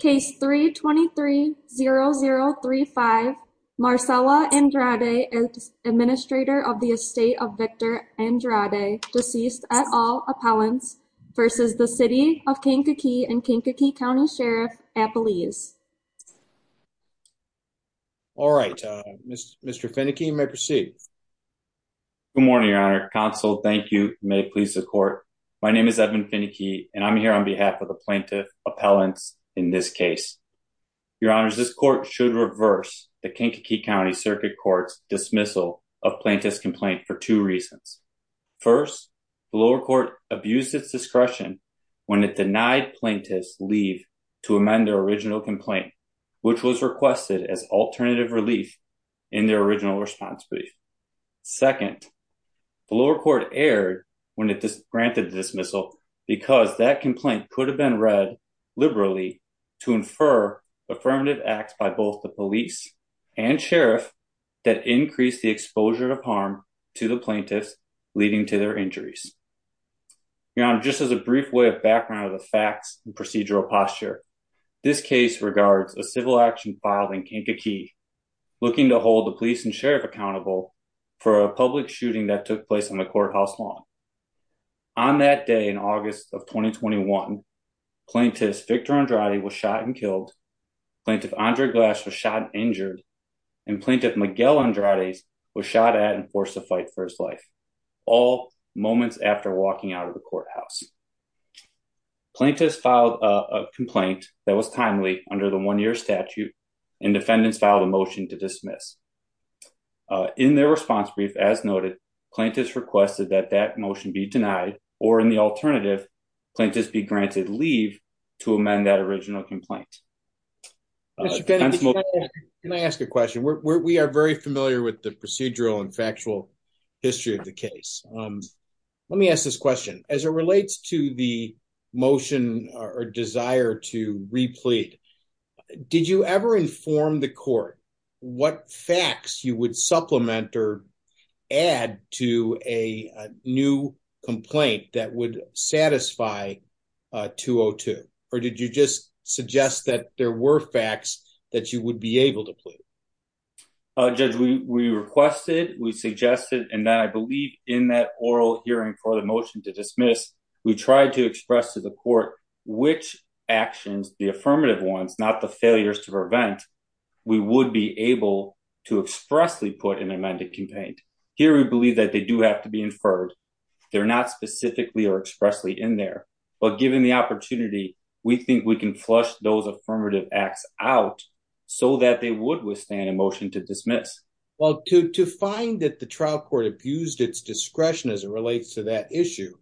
Case 3-23-0035, Marcella Andrade, Administrator of the Estate of Victor Andrade, deceased at all appellants, v. City of Kankakee and Kankakee County Sheriff at Belize. All right, Mr. Fenneke, you may proceed. Good morning, Your Honor. Counsel, thank you. May it please the court. My name is Edmund Fenneke, and I'm here on behalf of the plaintiff appellants in this case. Your Honor, this court should reverse the Kankakee County Circuit Court's dismissal of plaintiff's complaint for two reasons. First, the lower court abused its discretion when it denied plaintiffs' leave to amend their original complaint, which was requested as alternative relief in their original responsibility. Second, the lower court erred when it granted the dismissal because that complaint could have been read liberally to infer affirmative acts by both the police and sheriff that increased the exposure of harm to the plaintiffs leading to their injuries. Your Honor, just as a brief way of background of the facts and procedural posture, this case regards a civil action filed in Kankakee looking to hold the police and sheriff accountable for a public shooting that took place in the courthouse lawn. On that day in August of 2021, plaintiff Victor Andrade was shot and killed, plaintiff Andre Glass was shot and injured, and plaintiff Miguel Andrade was shot at and forced to fight for his life, all moments after walking out of the courthouse. Plaintiffs filed a complaint that was timely under the one-year statute, and defendants filed a motion to dismiss. In their response brief, as noted, plaintiffs requested that that motion be denied, or in the alternative, plaintiffs be granted leave to amend that original complaint. Can I ask a question? We are very familiar with the procedural and factual history of the case. Let me ask this question. As it relates to the motion or desire to replete, did you ever inform the court what facts you would supplement or add to a new complaint that would satisfy 202? Or did you just suggest that there were facts that you would be able to in that oral hearing for the motion to dismiss, we tried to express to the court which actions, the affirmative ones, not the failures to prevent, we would be able to expressly put in an amended complaint. Here, we believe that they do have to be inferred. They're not specifically or expressly in there. But given the opportunity, we think we can flush those affirmative acts out so that they would withstand a motion to dismiss. Well, to find that the trial court abused its discretion as it relates to that issue,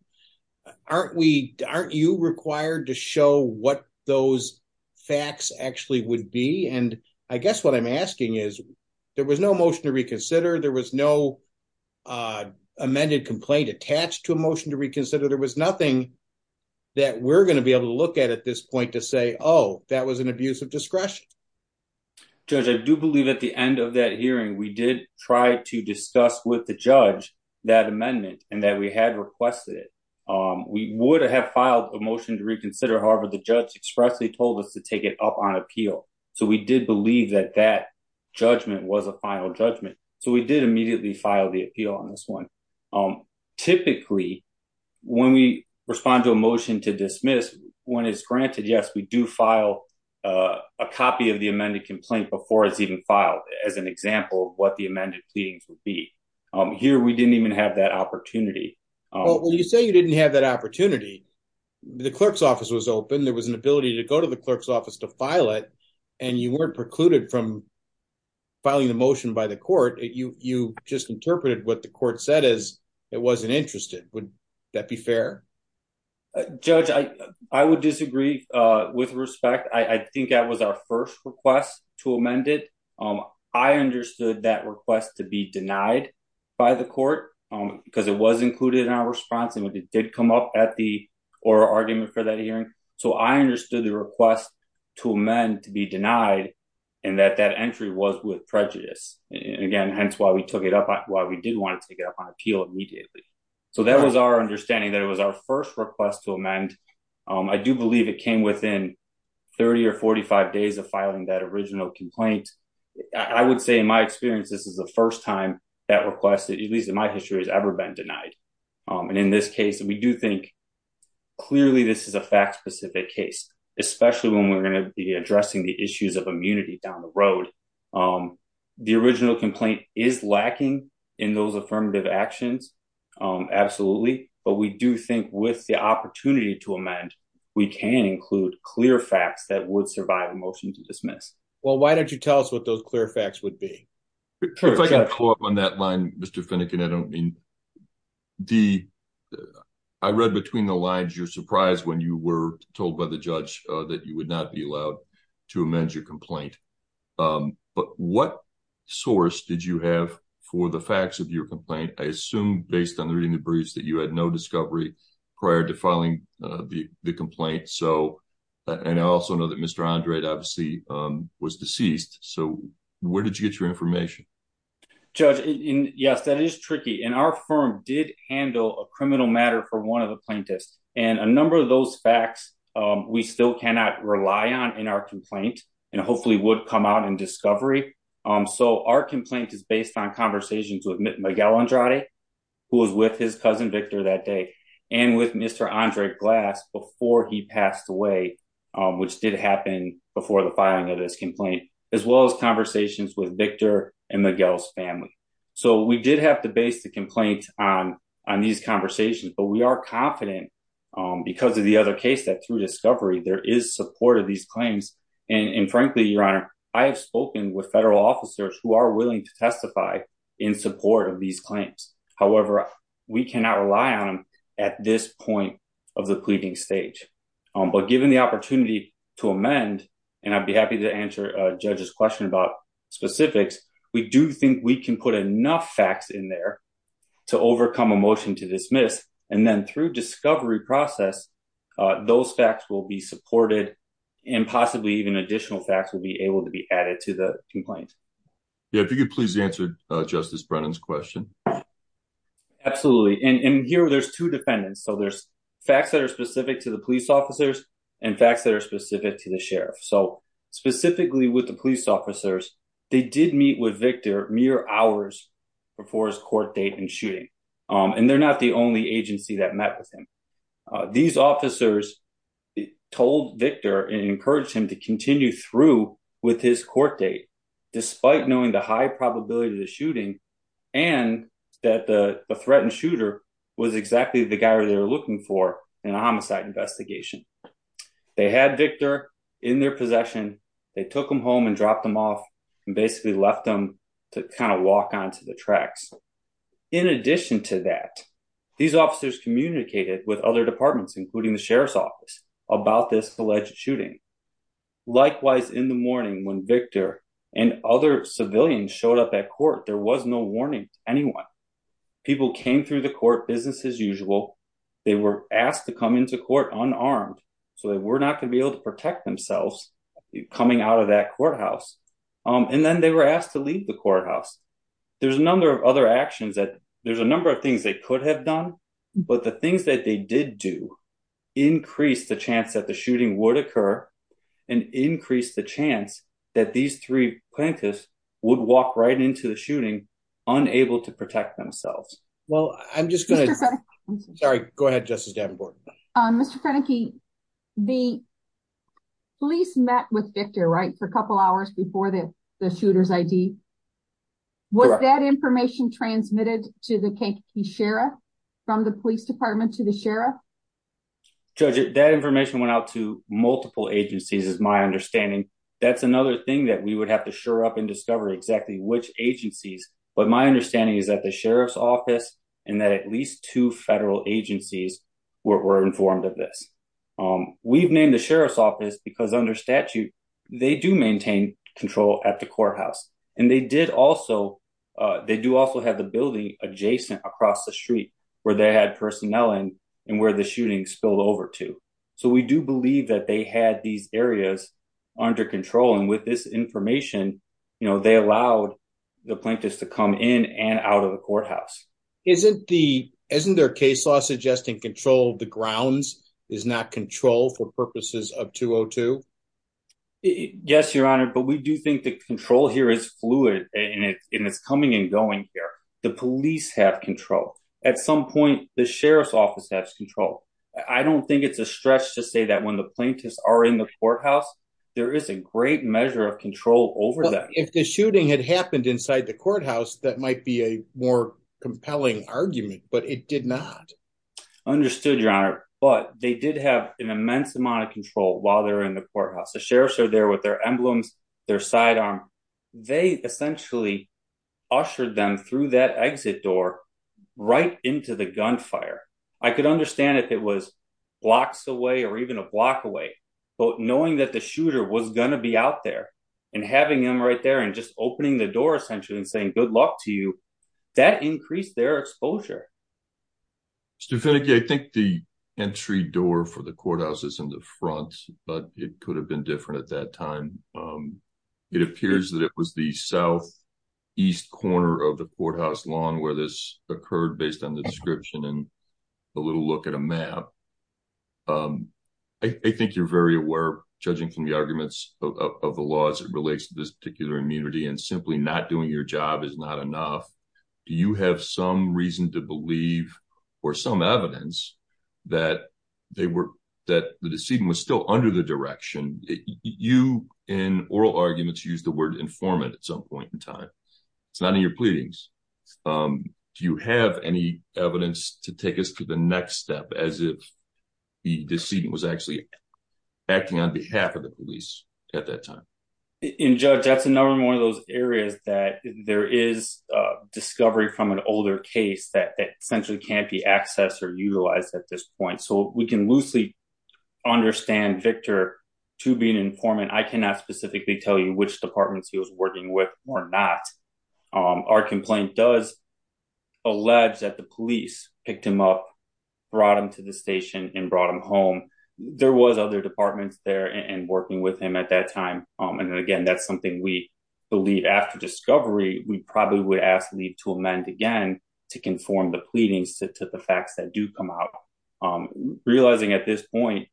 aren't we, aren't you required to show what those facts actually would be? And I guess what I'm asking is, there was no motion to reconsider, there was no amended complaint attached to a motion to reconsider, there was nothing that we're going to be able to look at at this point to say, oh, that was an abuse of discretion. Judge, I do believe at the end of that hearing, we did try to discuss with the judge that amendment and that we had requested it. We would have filed a motion to reconsider, however, the judge expressly told us to take it up on appeal. So we did believe that that judgment was a final judgment. So we did immediately file the appeal on this one. Typically, when we respond to a motion to dismiss, when it's granted, yes, we do file a copy of the amended complaint before it's even filed, as an example of what the amended pleadings would be. Here, we didn't even have that opportunity. Well, you say you didn't have that opportunity. The clerk's office was open, there was an ability to go to the clerk's office to file it, and you weren't precluded from filing the motion by the court. You just interpreted what the court said as it wasn't interested. Would that be fair? Judge, I would disagree with respect. I think that was our first request to amend it. I understood that request to be denied by the court, because it was included in our response, and it did come up at the oral argument for that hearing. So I understood the request to amend to be denied, and that that entry was with prejudice. Again, hence why we took it up, why we did want to take our first request to amend. I do believe it came within 30 or 45 days of filing that original complaint. I would say in my experience, this is the first time that request, at least in my history, has ever been denied. And in this case, we do think clearly this is a fact-specific case, especially when we're going to be addressing the issues of immunity down the road. The original complaint is lacking in those affirmative actions, absolutely, but we do think with the opportunity to amend, we can include clear facts that would survive a motion to dismiss. Well, why don't you tell us what those clear facts would be? If I can pull up on that line, Mr. Finnegan, I don't mean... I read between the lines you're surprised when you were told by judge that you would not be allowed to amend your complaint. But what source did you have for the facts of your complaint? I assume based on reading the briefs that you had no discovery prior to filing the complaint. And I also know that Mr. Andre obviously was deceased. So where did you get your information? Judge, yes, that is tricky. And our firm did handle a criminal matter for one of the plaintiffs. And a number of those facts, we still cannot rely on in our complaint, and hopefully would come out in discovery. So our complaint is based on conversations with Miguel Andrade, who was with his cousin Victor that day, and with Mr. Andre Glass before he passed away, which did happen before the filing of this complaint, as well as conversations with We are confident because of the other case that through discovery, there is support of these claims. And frankly, Your Honor, I have spoken with federal officers who are willing to testify in support of these claims. However, we cannot rely on them at this point of the pleading stage. But given the opportunity to amend, and I'd be happy to answer Judge's question about specifics, we do think we can put enough facts in there to overcome a motion to dismiss. And then through discovery process, those facts will be supported. And possibly even additional facts will be able to be added to the complaint. Yeah, if you could please answer Justice Brennan's question. Absolutely. And here there's two defendants. So there's facts that are specific to the police officers, and facts that are specific to the sheriff. So specifically with the police officers, they did meet with Victor mere hours before his court date and shooting. And they're not the only agency that met with him. These officers told Victor and encouraged him to continue through with his court date, despite knowing the high probability of the shooting, and that the threatened shooter was exactly the guy they were looking for in a homicide investigation. They had Victor in their possession. They took him home and dropped him off, and basically left them to kind of walk onto the tracks. In addition to that, these officers communicated with other departments, including the sheriff's office, about this alleged shooting. Likewise, in the morning when Victor and other civilians showed up at court, there was no warning to anyone. People came through the court business as usual. They were asked to come into unarmed, so they were not going to be able to protect themselves coming out of that courthouse. And then they were asked to leave the courthouse. There's a number of other actions that there's a number of things they could have done. But the things that they did do increased the chance that the shooting would occur, and increased the chance that these three plaintiffs would walk right into the shooting, unable to protect themselves. Well, I'm just going to... Sorry, go ahead, Justice Davenport. Mr. Kroenke, the police met with Victor, right, for a couple hours before the shooter's ID. Was that information transmitted to the sheriff, from the police department to the sheriff? Judge, that information went out to multiple agencies, is my understanding. That's another thing that we would have to shore up and discover exactly which agencies. But my we're informed of this. We've named the sheriff's office because under statute, they do maintain control at the courthouse. And they do also have the building adjacent across the street where they had personnel in, and where the shooting spilled over to. So we do believe that they had these areas under control. And with this information, they allowed the plaintiffs to in and out of the courthouse. Isn't their case law suggesting control of the grounds is not control for purposes of 202? Yes, Your Honor, but we do think the control here is fluid, and it's coming and going here. The police have control. At some point, the sheriff's office has control. I don't think it's a stretch to say that when the plaintiffs are in the courthouse, there is a great measure of control over them. If the shooting had happened inside the courthouse, that might be a more compelling argument, but it did not. Understood, Your Honor, but they did have an immense amount of control while they're in the courthouse. The sheriff's are there with their emblems, their sidearm. They essentially ushered them through that exit door, right into the gunfire. I could understand if it was blocks away or even a block away. But knowing that the shooter was going to be out there, and having them right there and just opening the door, and saying good luck to you, that increased their exposure. Stefaniki, I think the entry door for the courthouse is in the front, but it could have been different at that time. It appears that it was the southeast corner of the courthouse lawn where this occurred, based on the description and a little look at a map. I think you're very aware, judging from the arguments of the law, as it relates to this particular immunity, and simply not doing your job is not enough. Do you have some reason to believe, or some evidence, that the decedent was still under the direction? You, in oral arguments, use the word informant at some point in time. It's not in your pleadings. Do you have any evidence to take us to the next step, as if the decedent was actually acting on behalf of the police at that time? Judge, that's another one of those areas that there is discovery from an older case that essentially can't be accessed or utilized at this point. We can loosely understand Victor to be an informant. I cannot specifically tell you which departments he was working with or not. Our complaint does allege that the police picked him up, brought him to the station, and brought him home. There were other departments there working with him at that time. Again, that's something we believe after discovery, we probably would ask to amend again to conform the pleadings to the facts that do come out. Realizing at this point,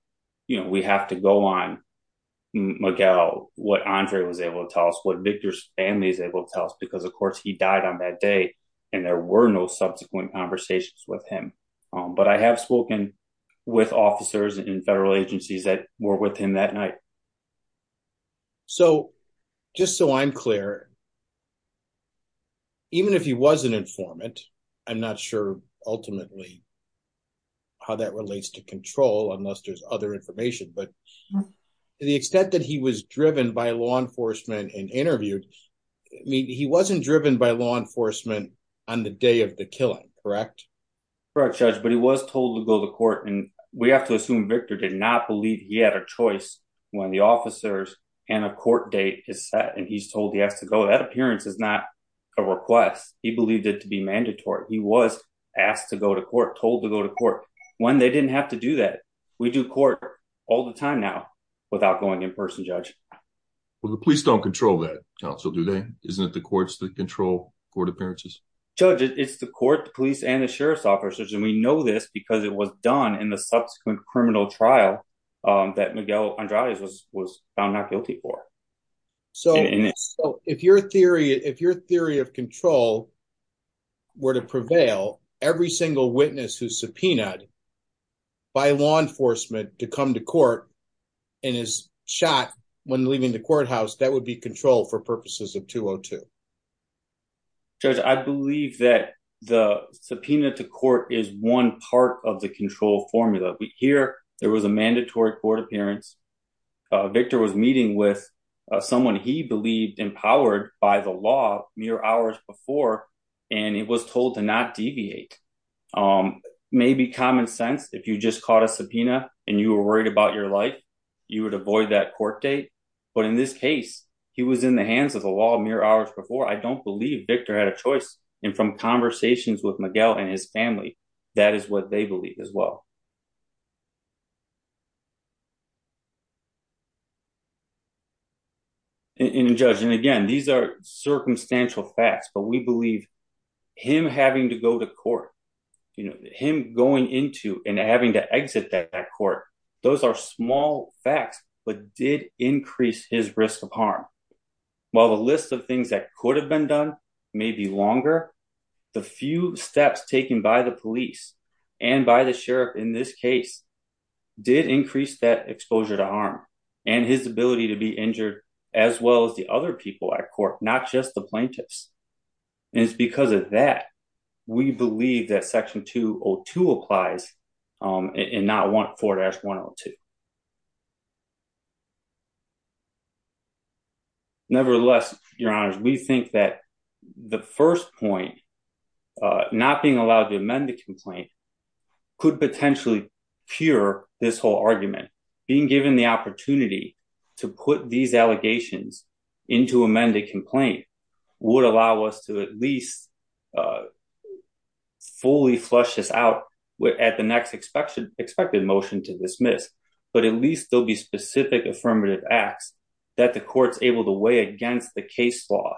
we have to go on and look at what Andre was able to tell us, what Victor's family is able to tell us. Of course, he died on that day, and there were no subsequent conversations with him. But I have spoken with officers and federal agencies that were with him that night. Just so I'm clear, even if he was an informant, I'm not sure ultimately how that relates to control unless there's other information. But to the extent that he was driven by law enforcement and interviewed, he wasn't driven by law enforcement on the day of the killing, correct? Correct, Judge. But he was told to go to court, and we have to assume Victor did not believe he had a choice when the officers and a court date is set, and he's told he has to go. That appearance is not a request. He believed it to be mandatory. He was asked to go to court, told to go to court, when they didn't have to do that. We do court all the time now without going in person, Judge. Well, the police don't control that, Counsel, do they? Isn't it the courts that control court appearances? Judge, it's the court, the police, and the sheriff's officers, and we know this because it was done in the subsequent criminal trial that Miguel Andrade was found not guilty for. So if your theory of control were to prevail, every single witness who's subpoenaed by law enforcement to come to court and is shot when leaving the courthouse, that would be control for purposes of 202. Judge, I believe that the subpoena to court is one part of the control formula. Here, there was a mandatory court appearance. Victor was meeting with someone he believed empowered by the law mere hours before, and he was told to not deviate. Maybe common sense, if you just caught a subpoena and you were worried about your life, you would avoid that court date. But in this case, he was in the hands of the law mere hours before. I don't believe Victor had a choice, and from conversations with Miguel and his family, that is what they believe as well. And Judge, and again, these are circumstantial facts, but we believe him having to go to court, you know, him going into and having to exit that court, those are small facts, but did increase his risk of harm. While the list of things that could have been done may be longer, the few steps taken by the police and by the sheriff in this case did increase that exposure to harm and his ability to be injured as well as the other people at court, not just the plaintiffs. And it's because of that, we believe that section 202 applies and not 4-102. Nevertheless, Your Honors, we think that the first point, not being allowed to amend the complaint, could potentially cure this whole argument. Being given the opportunity to put these allegations into amended complaint would allow us to at least fully flush this out at the next expected motion to dismiss, but at least there'll be specific affirmative acts that the court's able to weigh against the case law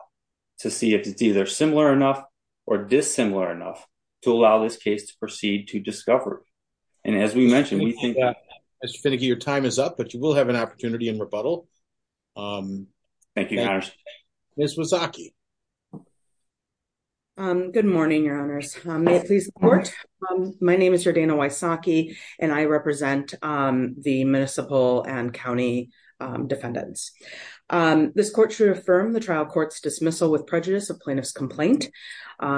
to see if it's either similar enough or dissimilar enough to allow this case to proceed to discovery. And as we mentioned, we think that- Mr. Finnegan, your time is up, but you will have an opportunity in rebuttal. Thank you, Your Honors. Ms. Wysocki. Good morning, Your Honors. May it please the court. My name is Jordana Wysocki and I represent the municipal and county defendants. This court should affirm the trial court's dismissal with prejudice of plaintiff's complaint.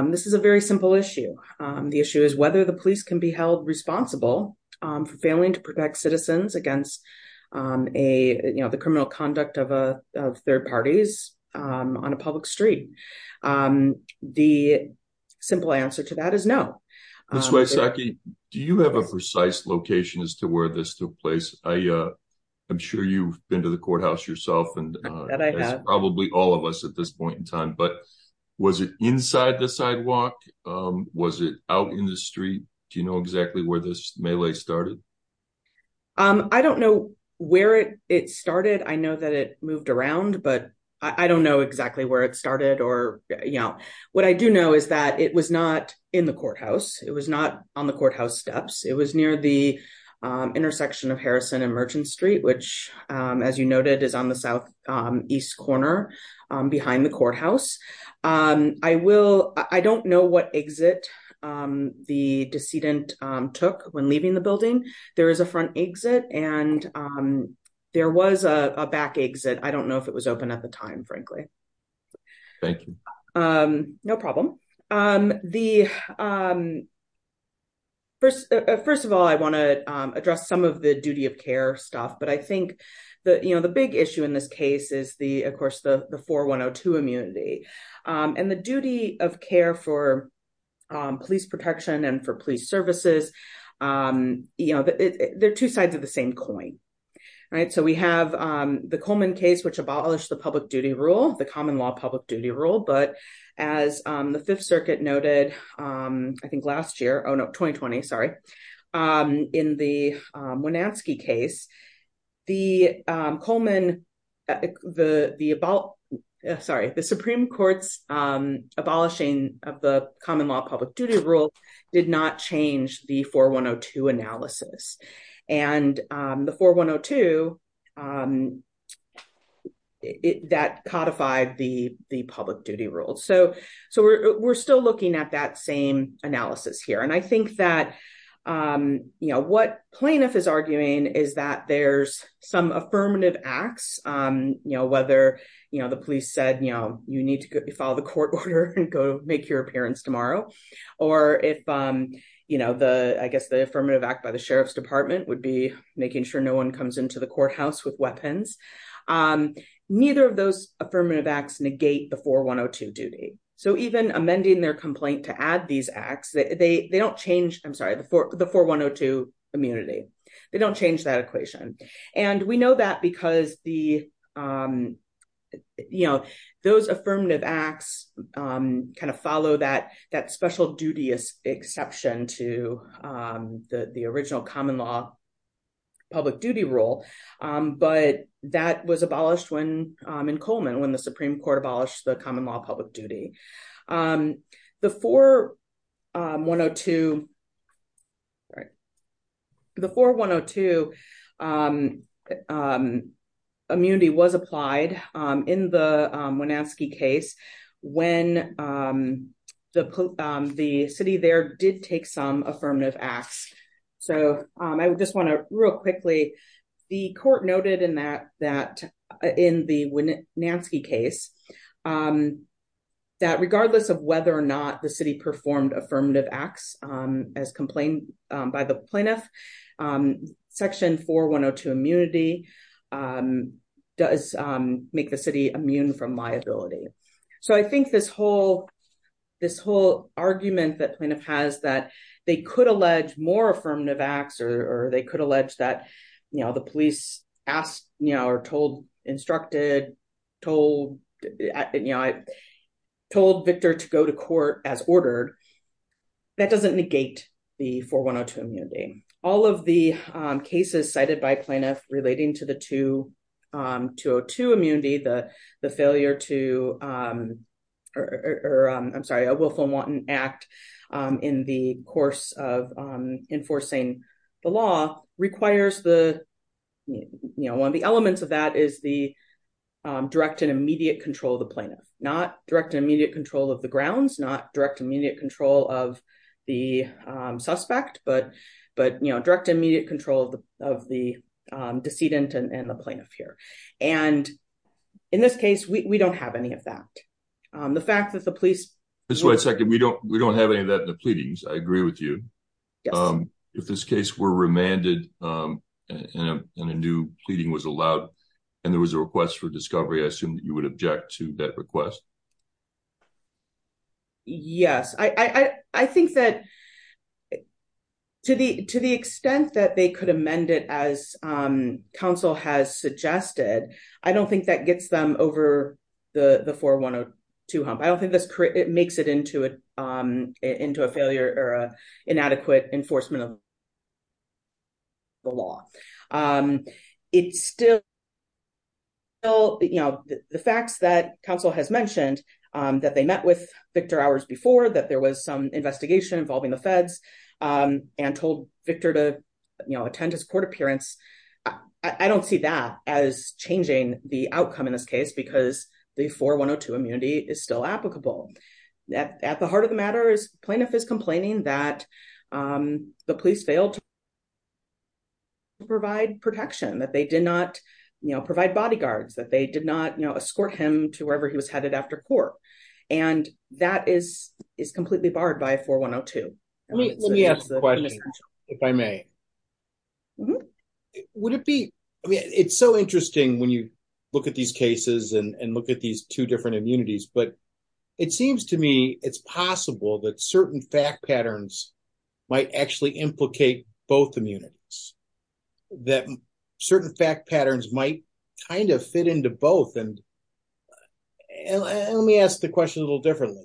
This is a very simple issue. The issue is whether the police can be held responsible for failing to protect citizens against the criminal conduct of third parties on a public street. The simple answer to that is no. Ms. Wysocki, do you have a precise location as to where this took place? I'm sure you've been to the courthouse yourself and probably all of us at this point in time, but was it inside the sidewalk? Was it out in the street? Do you know exactly where this melee started? I don't know where it started. I know that it moved around, but I don't know exactly where it started. What I do know is that it was not in the courthouse. It was not on the courthouse steps. It was near the intersection of Harrison and Merchant Street, which as you noted is on the southeast corner behind the courthouse. I don't know what exit the decedent took when leaving the building. There is a front exit and there was a back exit. I don't know if it was open at the time, frankly. Thank you. No problem. First of all, I want to address some of the duty of care stuff, but I think the big issue in this case is of course the 4102 immunity and the duty of care for police protection and for police services. They're sides of the same coin. We have the Coleman case, which abolished the public duty rule, the common law public duty rule, but as the Fifth Circuit noted, I think last year, 2020, sorry, in the Winansky case, the Supreme Court's abolishing of the common law public duty rule did not change the 4102 analysis. The 4102 codified the public duty rule. We're still looking at that same analysis here. I think that what plaintiff is arguing is that there's some affirmative acts, whether the police said, you need to follow the court order and go make your appearance tomorrow, or if I guess the affirmative act by the sheriff's department would be making sure no one comes into the courthouse with weapons. Neither of those affirmative acts negate the 4102 duty. Even amending their complaint to add these acts, they don't change, I'm sorry, the 4102 immunity. They don't change that equation. We know that because those affirmative acts follow that special duty exception to the original common law public duty rule, but that was abolished in Coleman when the Supreme Court abolished the common law public duty. The 4102 immunity was applied in the Winansky case when the city there did take some affirmative acts. I just want to real quickly, the court noted in the Winansky case that regardless of whether or not the city performed affirmative acts as complained by the plaintiff, section 4102 immunity does make the city immune from liability. I think this whole argument that plaintiff has that they could allege more affirmative acts or they could allege that the police told Victor to go to court as ordered, that doesn't negate the 4102 immunity. All of the cases cited by plaintiff relating to the enforcing the law requires one of the elements of that is the direct and immediate control of the plaintiff, not direct and immediate control of the grounds, not direct and immediate control of the suspect, but direct and immediate control of the decedent and the plaintiff here. In this case, we don't have any of that. The fact that the police- We don't have any of that in the pleadings. I agree with you. If this case were remanded and a new pleading was allowed and there was a request for discovery, I assume that you would object to that request? Yes. I think that to the extent that they could amend it as counsel has suggested, I don't think that gets them over the 4102 hump. I don't think it makes it into a failure or inadequate enforcement of the law. The facts that counsel has mentioned that they met with Victor hours before, that there was some investigation involving the feds and told Victor to attend his court appearance, I don't see that as changing the At the heart of the matter, the plaintiff is complaining that the police failed to provide protection, that they did not provide bodyguards, that they did not escort him to wherever he was headed after court. That is completely barred by 4102. Let me ask a question, if I may. It's so interesting when you look at these cases and look at these two different immunities, but it seems to me it's possible that certain fact patterns might actually implicate both immunities, that certain fact patterns might kind of fit into both. Let me ask the question a little differently.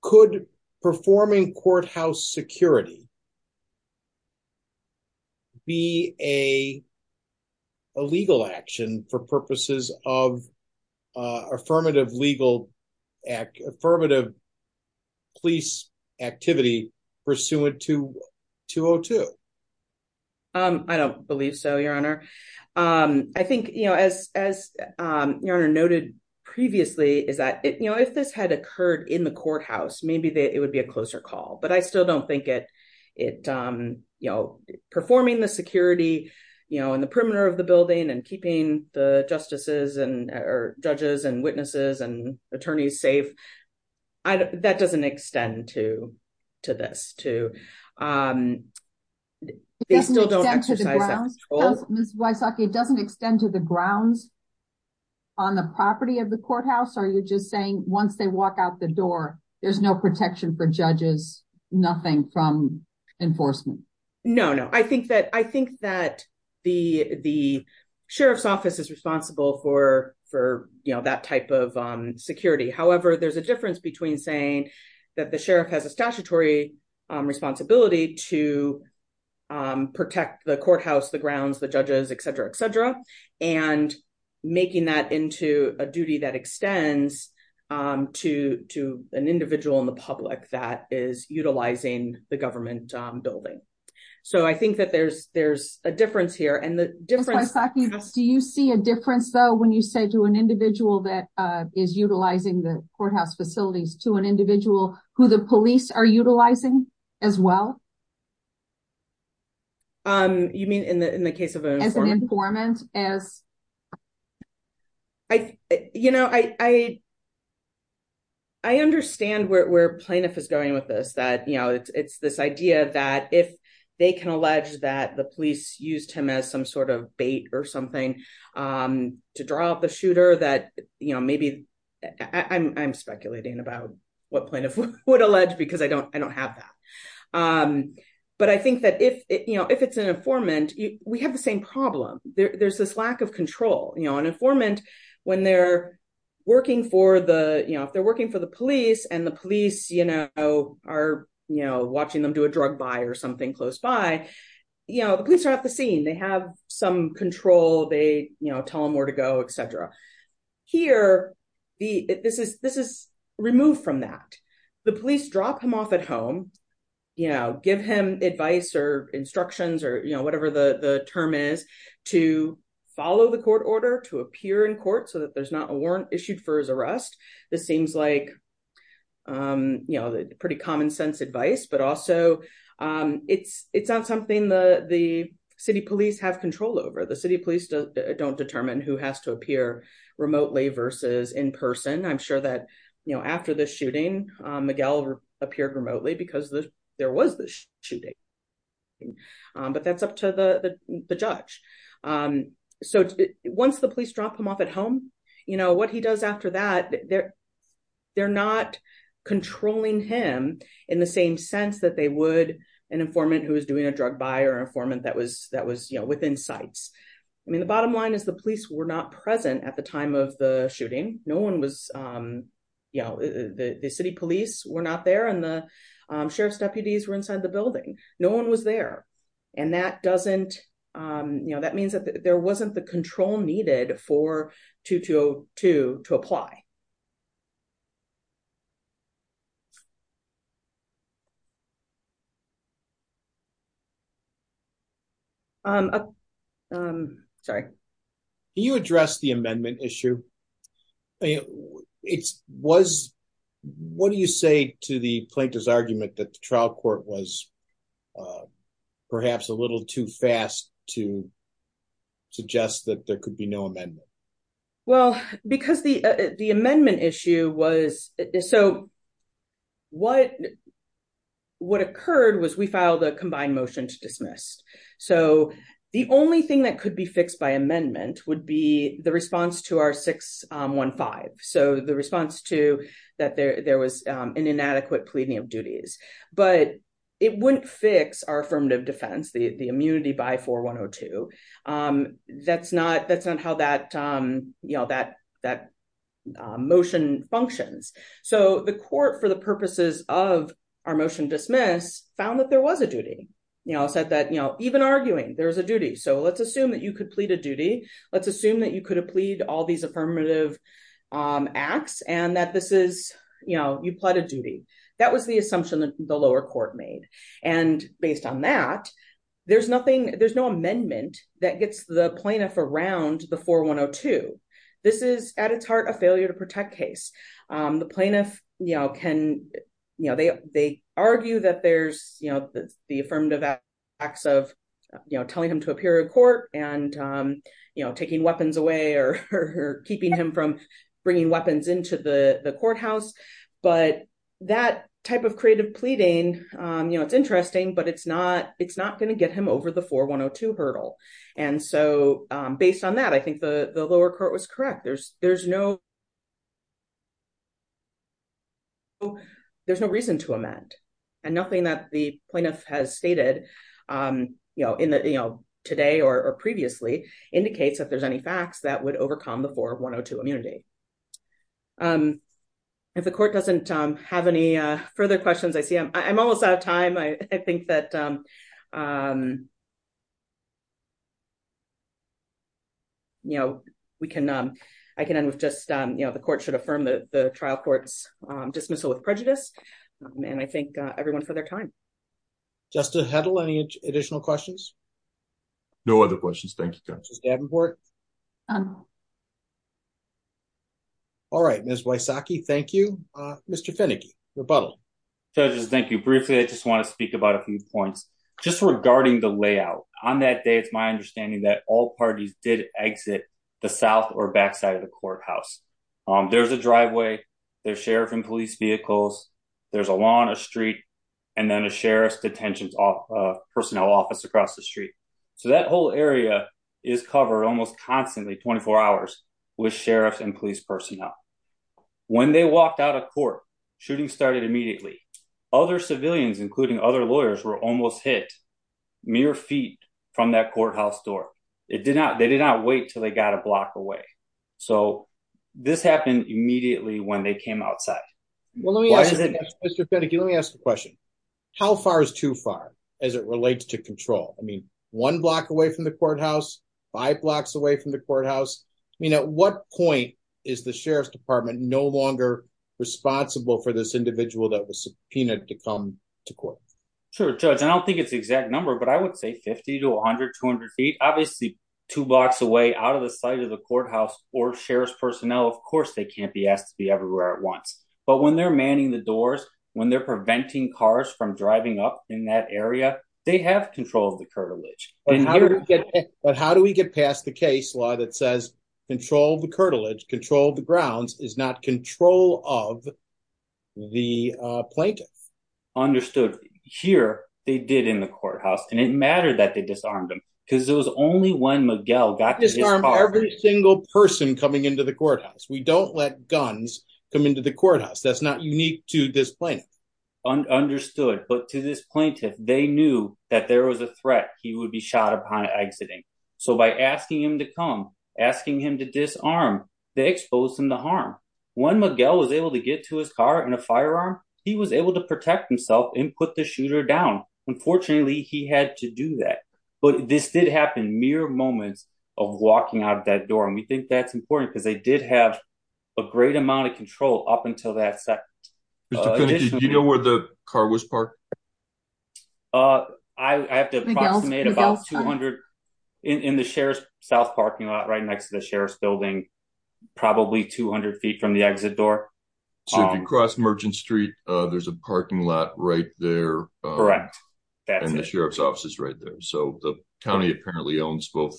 Could performing courthouse security be a legal action for purposes of affirmative legal police activity pursuant to 202? I don't believe so, your honor. I think as your honor noted previously, is that if this had occurred in the courthouse, maybe it would be a closer call, but I still don't think it is. Performing the security in the perimeter of the building and keeping the judges and witnesses and attorneys safe, that doesn't extend to this. It doesn't extend to the grounds on the property of the courthouse? Are you just saying once they walk out the door, there's no protection for judges, nothing from enforcement? No, no. I think that the sheriff's office is responsible for that type of security. However, there's a difference between saying that the sheriff has a statutory responsibility to protect the courthouse, the grounds, the judges, et cetera, et cetera, and making that into a duty that extends to an individual in the public that is utilizing the government building. I think that there's a difference here. Ms. Wysocki, do you see a difference, though, when you say to an individual that is utilizing the courthouse facilities, to an individual who the police are utilizing as well? You mean in the case of an informant? I understand where Plaintiff is going with this, that it's this idea that if they can allege that the police used him as some sort of bait or something to draw out the shooter, that maybe... I'm speculating about what Plaintiff would allege because I don't have that. But I think that if it's an informant, we have the same problem. There's this lack of control. An informant, when they're working for the police and the police are watching them do a drug buy or something close by, the police are off the scene. They have some control. They tell them where to go, et cetera. Here, this is removed from that. The police drop him off at home, you know, give him advice or instructions or whatever the term is to follow the court order to appear in court so that there's not a warrant issued for his arrest. This seems like pretty common sense advice, but also it's not something the city police have control over. The city police don't determine who has to appear remotely versus in person. I'm sure that after the shooting, Miguel appeared remotely because there was this shooting. But that's up to the judge. Once the police drop him off at home, what he does after that, they're not controlling him in the same sense that they would an informant who was doing a drug buy or an informant that was within sights. I mean, the bottom line is the police were not present at time of the shooting. No one was, you know, the city police were not there and the sheriff's deputies were inside the building. No one was there. And that doesn't, you know, that means that there wasn't the control needed for 2202 to apply. Sorry. Can you address the amendment issue? What do you say to the plaintiff's argument that the trial court was perhaps a little too fast to suggest that there could be no amendment? Well, because the amendment issue was, so what occurred was we filed a combined motion to our 615. So the response to that there was an inadequate pleading of duties, but it wouldn't fix our affirmative defense, the immunity by 4102. That's not how that, you know, that motion functions. So the court for the purposes of our motion dismiss found that there was a duty, you know, said that, you know, even arguing there's a duty. So let's assume that you could all these affirmative acts and that this is, you know, you pled a duty. That was the assumption that the lower court made. And based on that, there's nothing, there's no amendment that gets the plaintiff around the 4102. This is at its heart, a failure to protect case. The plaintiff, you know, can, you know, they argue that there's, you know, the affirmative acts of, you know, taking weapons away or keeping him from bringing weapons into the courthouse, but that type of creative pleading, you know, it's interesting, but it's not going to get him over the 4102 hurdle. And so based on that, I think the lower court was correct. There's no, there's no reason to amend and nothing that the plaintiff has stated, you know, today or previously indicates that there's any facts that would overcome the 4102 immunity. If the court doesn't have any further questions, I see I'm almost out of time. I think that, you know, we can, I can end with just, you know, the court should affirm the trial court's dismissal with prejudice. And I thank everyone for their time. Justice Hedl, any additional questions? No other questions. Thank you. All right, Ms. Wysocki, thank you. Mr. Finnegan, rebuttal. Judges, thank you briefly. I just want to speak about a few points just regarding the layout on that day. It's my understanding that all parties did exit the south or backside of the courthouse. Um, there's a driveway, there's sheriff and police vehicles, there's a lawn, and then a sheriff's detentions, uh, personnel office across the street. So that whole area is covered almost constantly, 24 hours with sheriffs and police personnel. When they walked out of court, shooting started immediately. Other civilians, including other lawyers, were almost hit mere feet from that courthouse door. It did not, they did not wait until they got a block away. So this happened immediately when they came outside. Well, let me ask Mr. Finnegan, let me ask a question. How far is too far as it relates to control? I mean, one block away from the courthouse, five blocks away from the courthouse. I mean, at what point is the sheriff's department no longer responsible for this individual that was subpoenaed to come to court? Sure, Judge, I don't think it's the exact number, but I would say 50 to 100, 200 feet. Obviously, two blocks away out of the sight of the courthouse or sheriff's personnel, of course, they can't be asked to be everywhere at once. But when they're manning the doors, when they're preventing cars from driving up in that area, they have control of the curtilage. But how do we get past the case law that says control the curtilage, control the grounds, is not control of the plaintiff? Understood. Here, they did in the courthouse, and it mattered that they disarmed them, because it was only when Miguel got to disarm- Disarm every single person coming into the courthouse. We don't let guns come into the place. Understood. But to this plaintiff, they knew that there was a threat he would be shot upon exiting. So by asking him to come, asking him to disarm, they exposed him to harm. When Miguel was able to get to his car in a firearm, he was able to protect himself and put the shooter down. Unfortunately, he had to do that. But this did happen mere moments of walking out that door, and we think that's important, because they did have a great amount of control up until that additional- Mr. Pinicky, do you know where the car was parked? I have to approximate about 200- In the Sheriff's South parking lot, right next to the Sheriff's building, probably 200 feet from the exit door. So if you cross Merchant Street, there's a parking lot right there. Correct. That's it. And the Sheriff's office is right there. So the county apparently owns both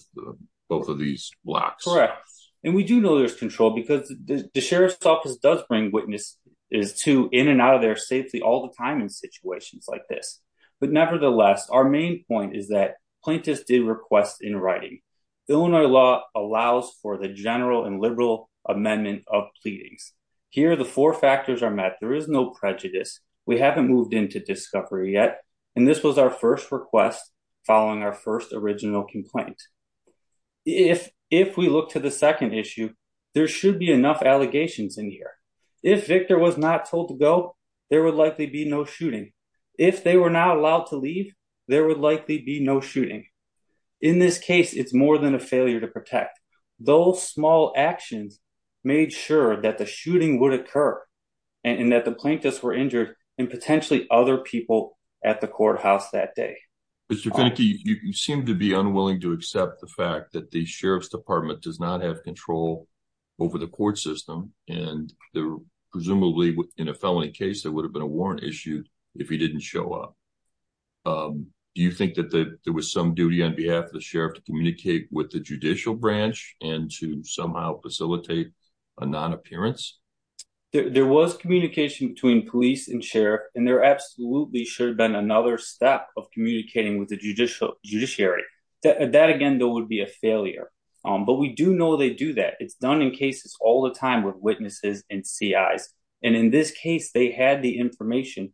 of these blocks. Correct. And we do know there's control, because the Sheriff's office does bring witness to in and out of there safely all the time in situations like this. But nevertheless, our main point is that plaintiffs did request in writing. Illinois law allows for the general and liberal amendment of pleadings. Here, the four factors are met. There is no prejudice. We haven't moved into discovery yet, and this was our first request following our first original complaint. If we look to the second issue, there should be enough allegations in here. If Victor was not told to go, there would likely be no shooting. If they were not allowed to leave, there would likely be no shooting. In this case, it's more than a failure to protect. Those small actions made sure that the shooting would occur and that the plaintiffs were injured and potentially other people at the courthouse that day. Mr. Feneke, you seem to be unwilling to accept the fact that the Sheriff's department does not have control over the court system, and presumably in a felony case, there would have been a warrant issued if he didn't show up. Do you think that there was some duty on behalf of the Sheriff to communicate with the judicial branch and to somehow facilitate a non-appearance? There was communication between police and Sheriff, and there absolutely should have been another step of communicating with the judiciary. That, again, though, would be a failure, but we do know they do that. It's done in cases all the time with witnesses and CIs, and in this case, they had the information.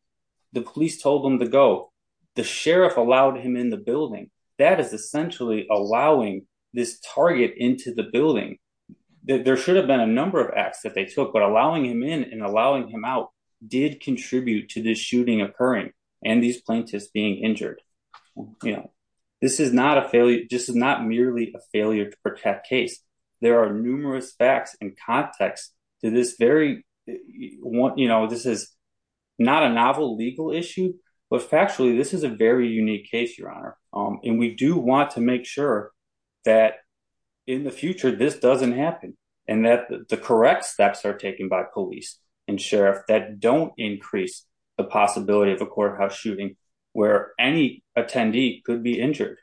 The police told them to go. The Sheriff allowed him in the building. That is essentially allowing this target into the building. There should have been a number of acts that they took, but allowing him in and allowing him out did contribute to this being injured. This is not merely a failure to protect case. There are numerous facts and contexts to this. This is not a novel legal issue, but factually, this is a very unique case, Your Honor, and we do want to make sure that in the future, this doesn't happen and that the correct steps are taken by police and Sheriff that don't increase the possibility of a courthouse shooting where any attendee could be injured,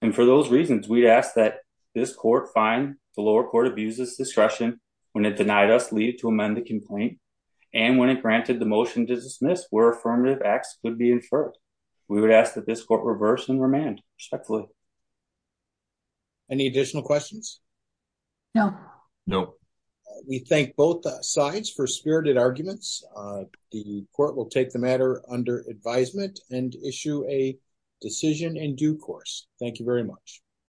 and for those reasons, we ask that this court find the lower court abuses discretion when it denied us leave to amend the complaint and when it granted the motion to dismiss where affirmative acts could be inferred. We would ask that this court reverse and remand respectfully. Any additional questions? No. No. We thank both sides for spirited arguments. The court will take the matter under advisement and issue a decision in due course. Thank you very much.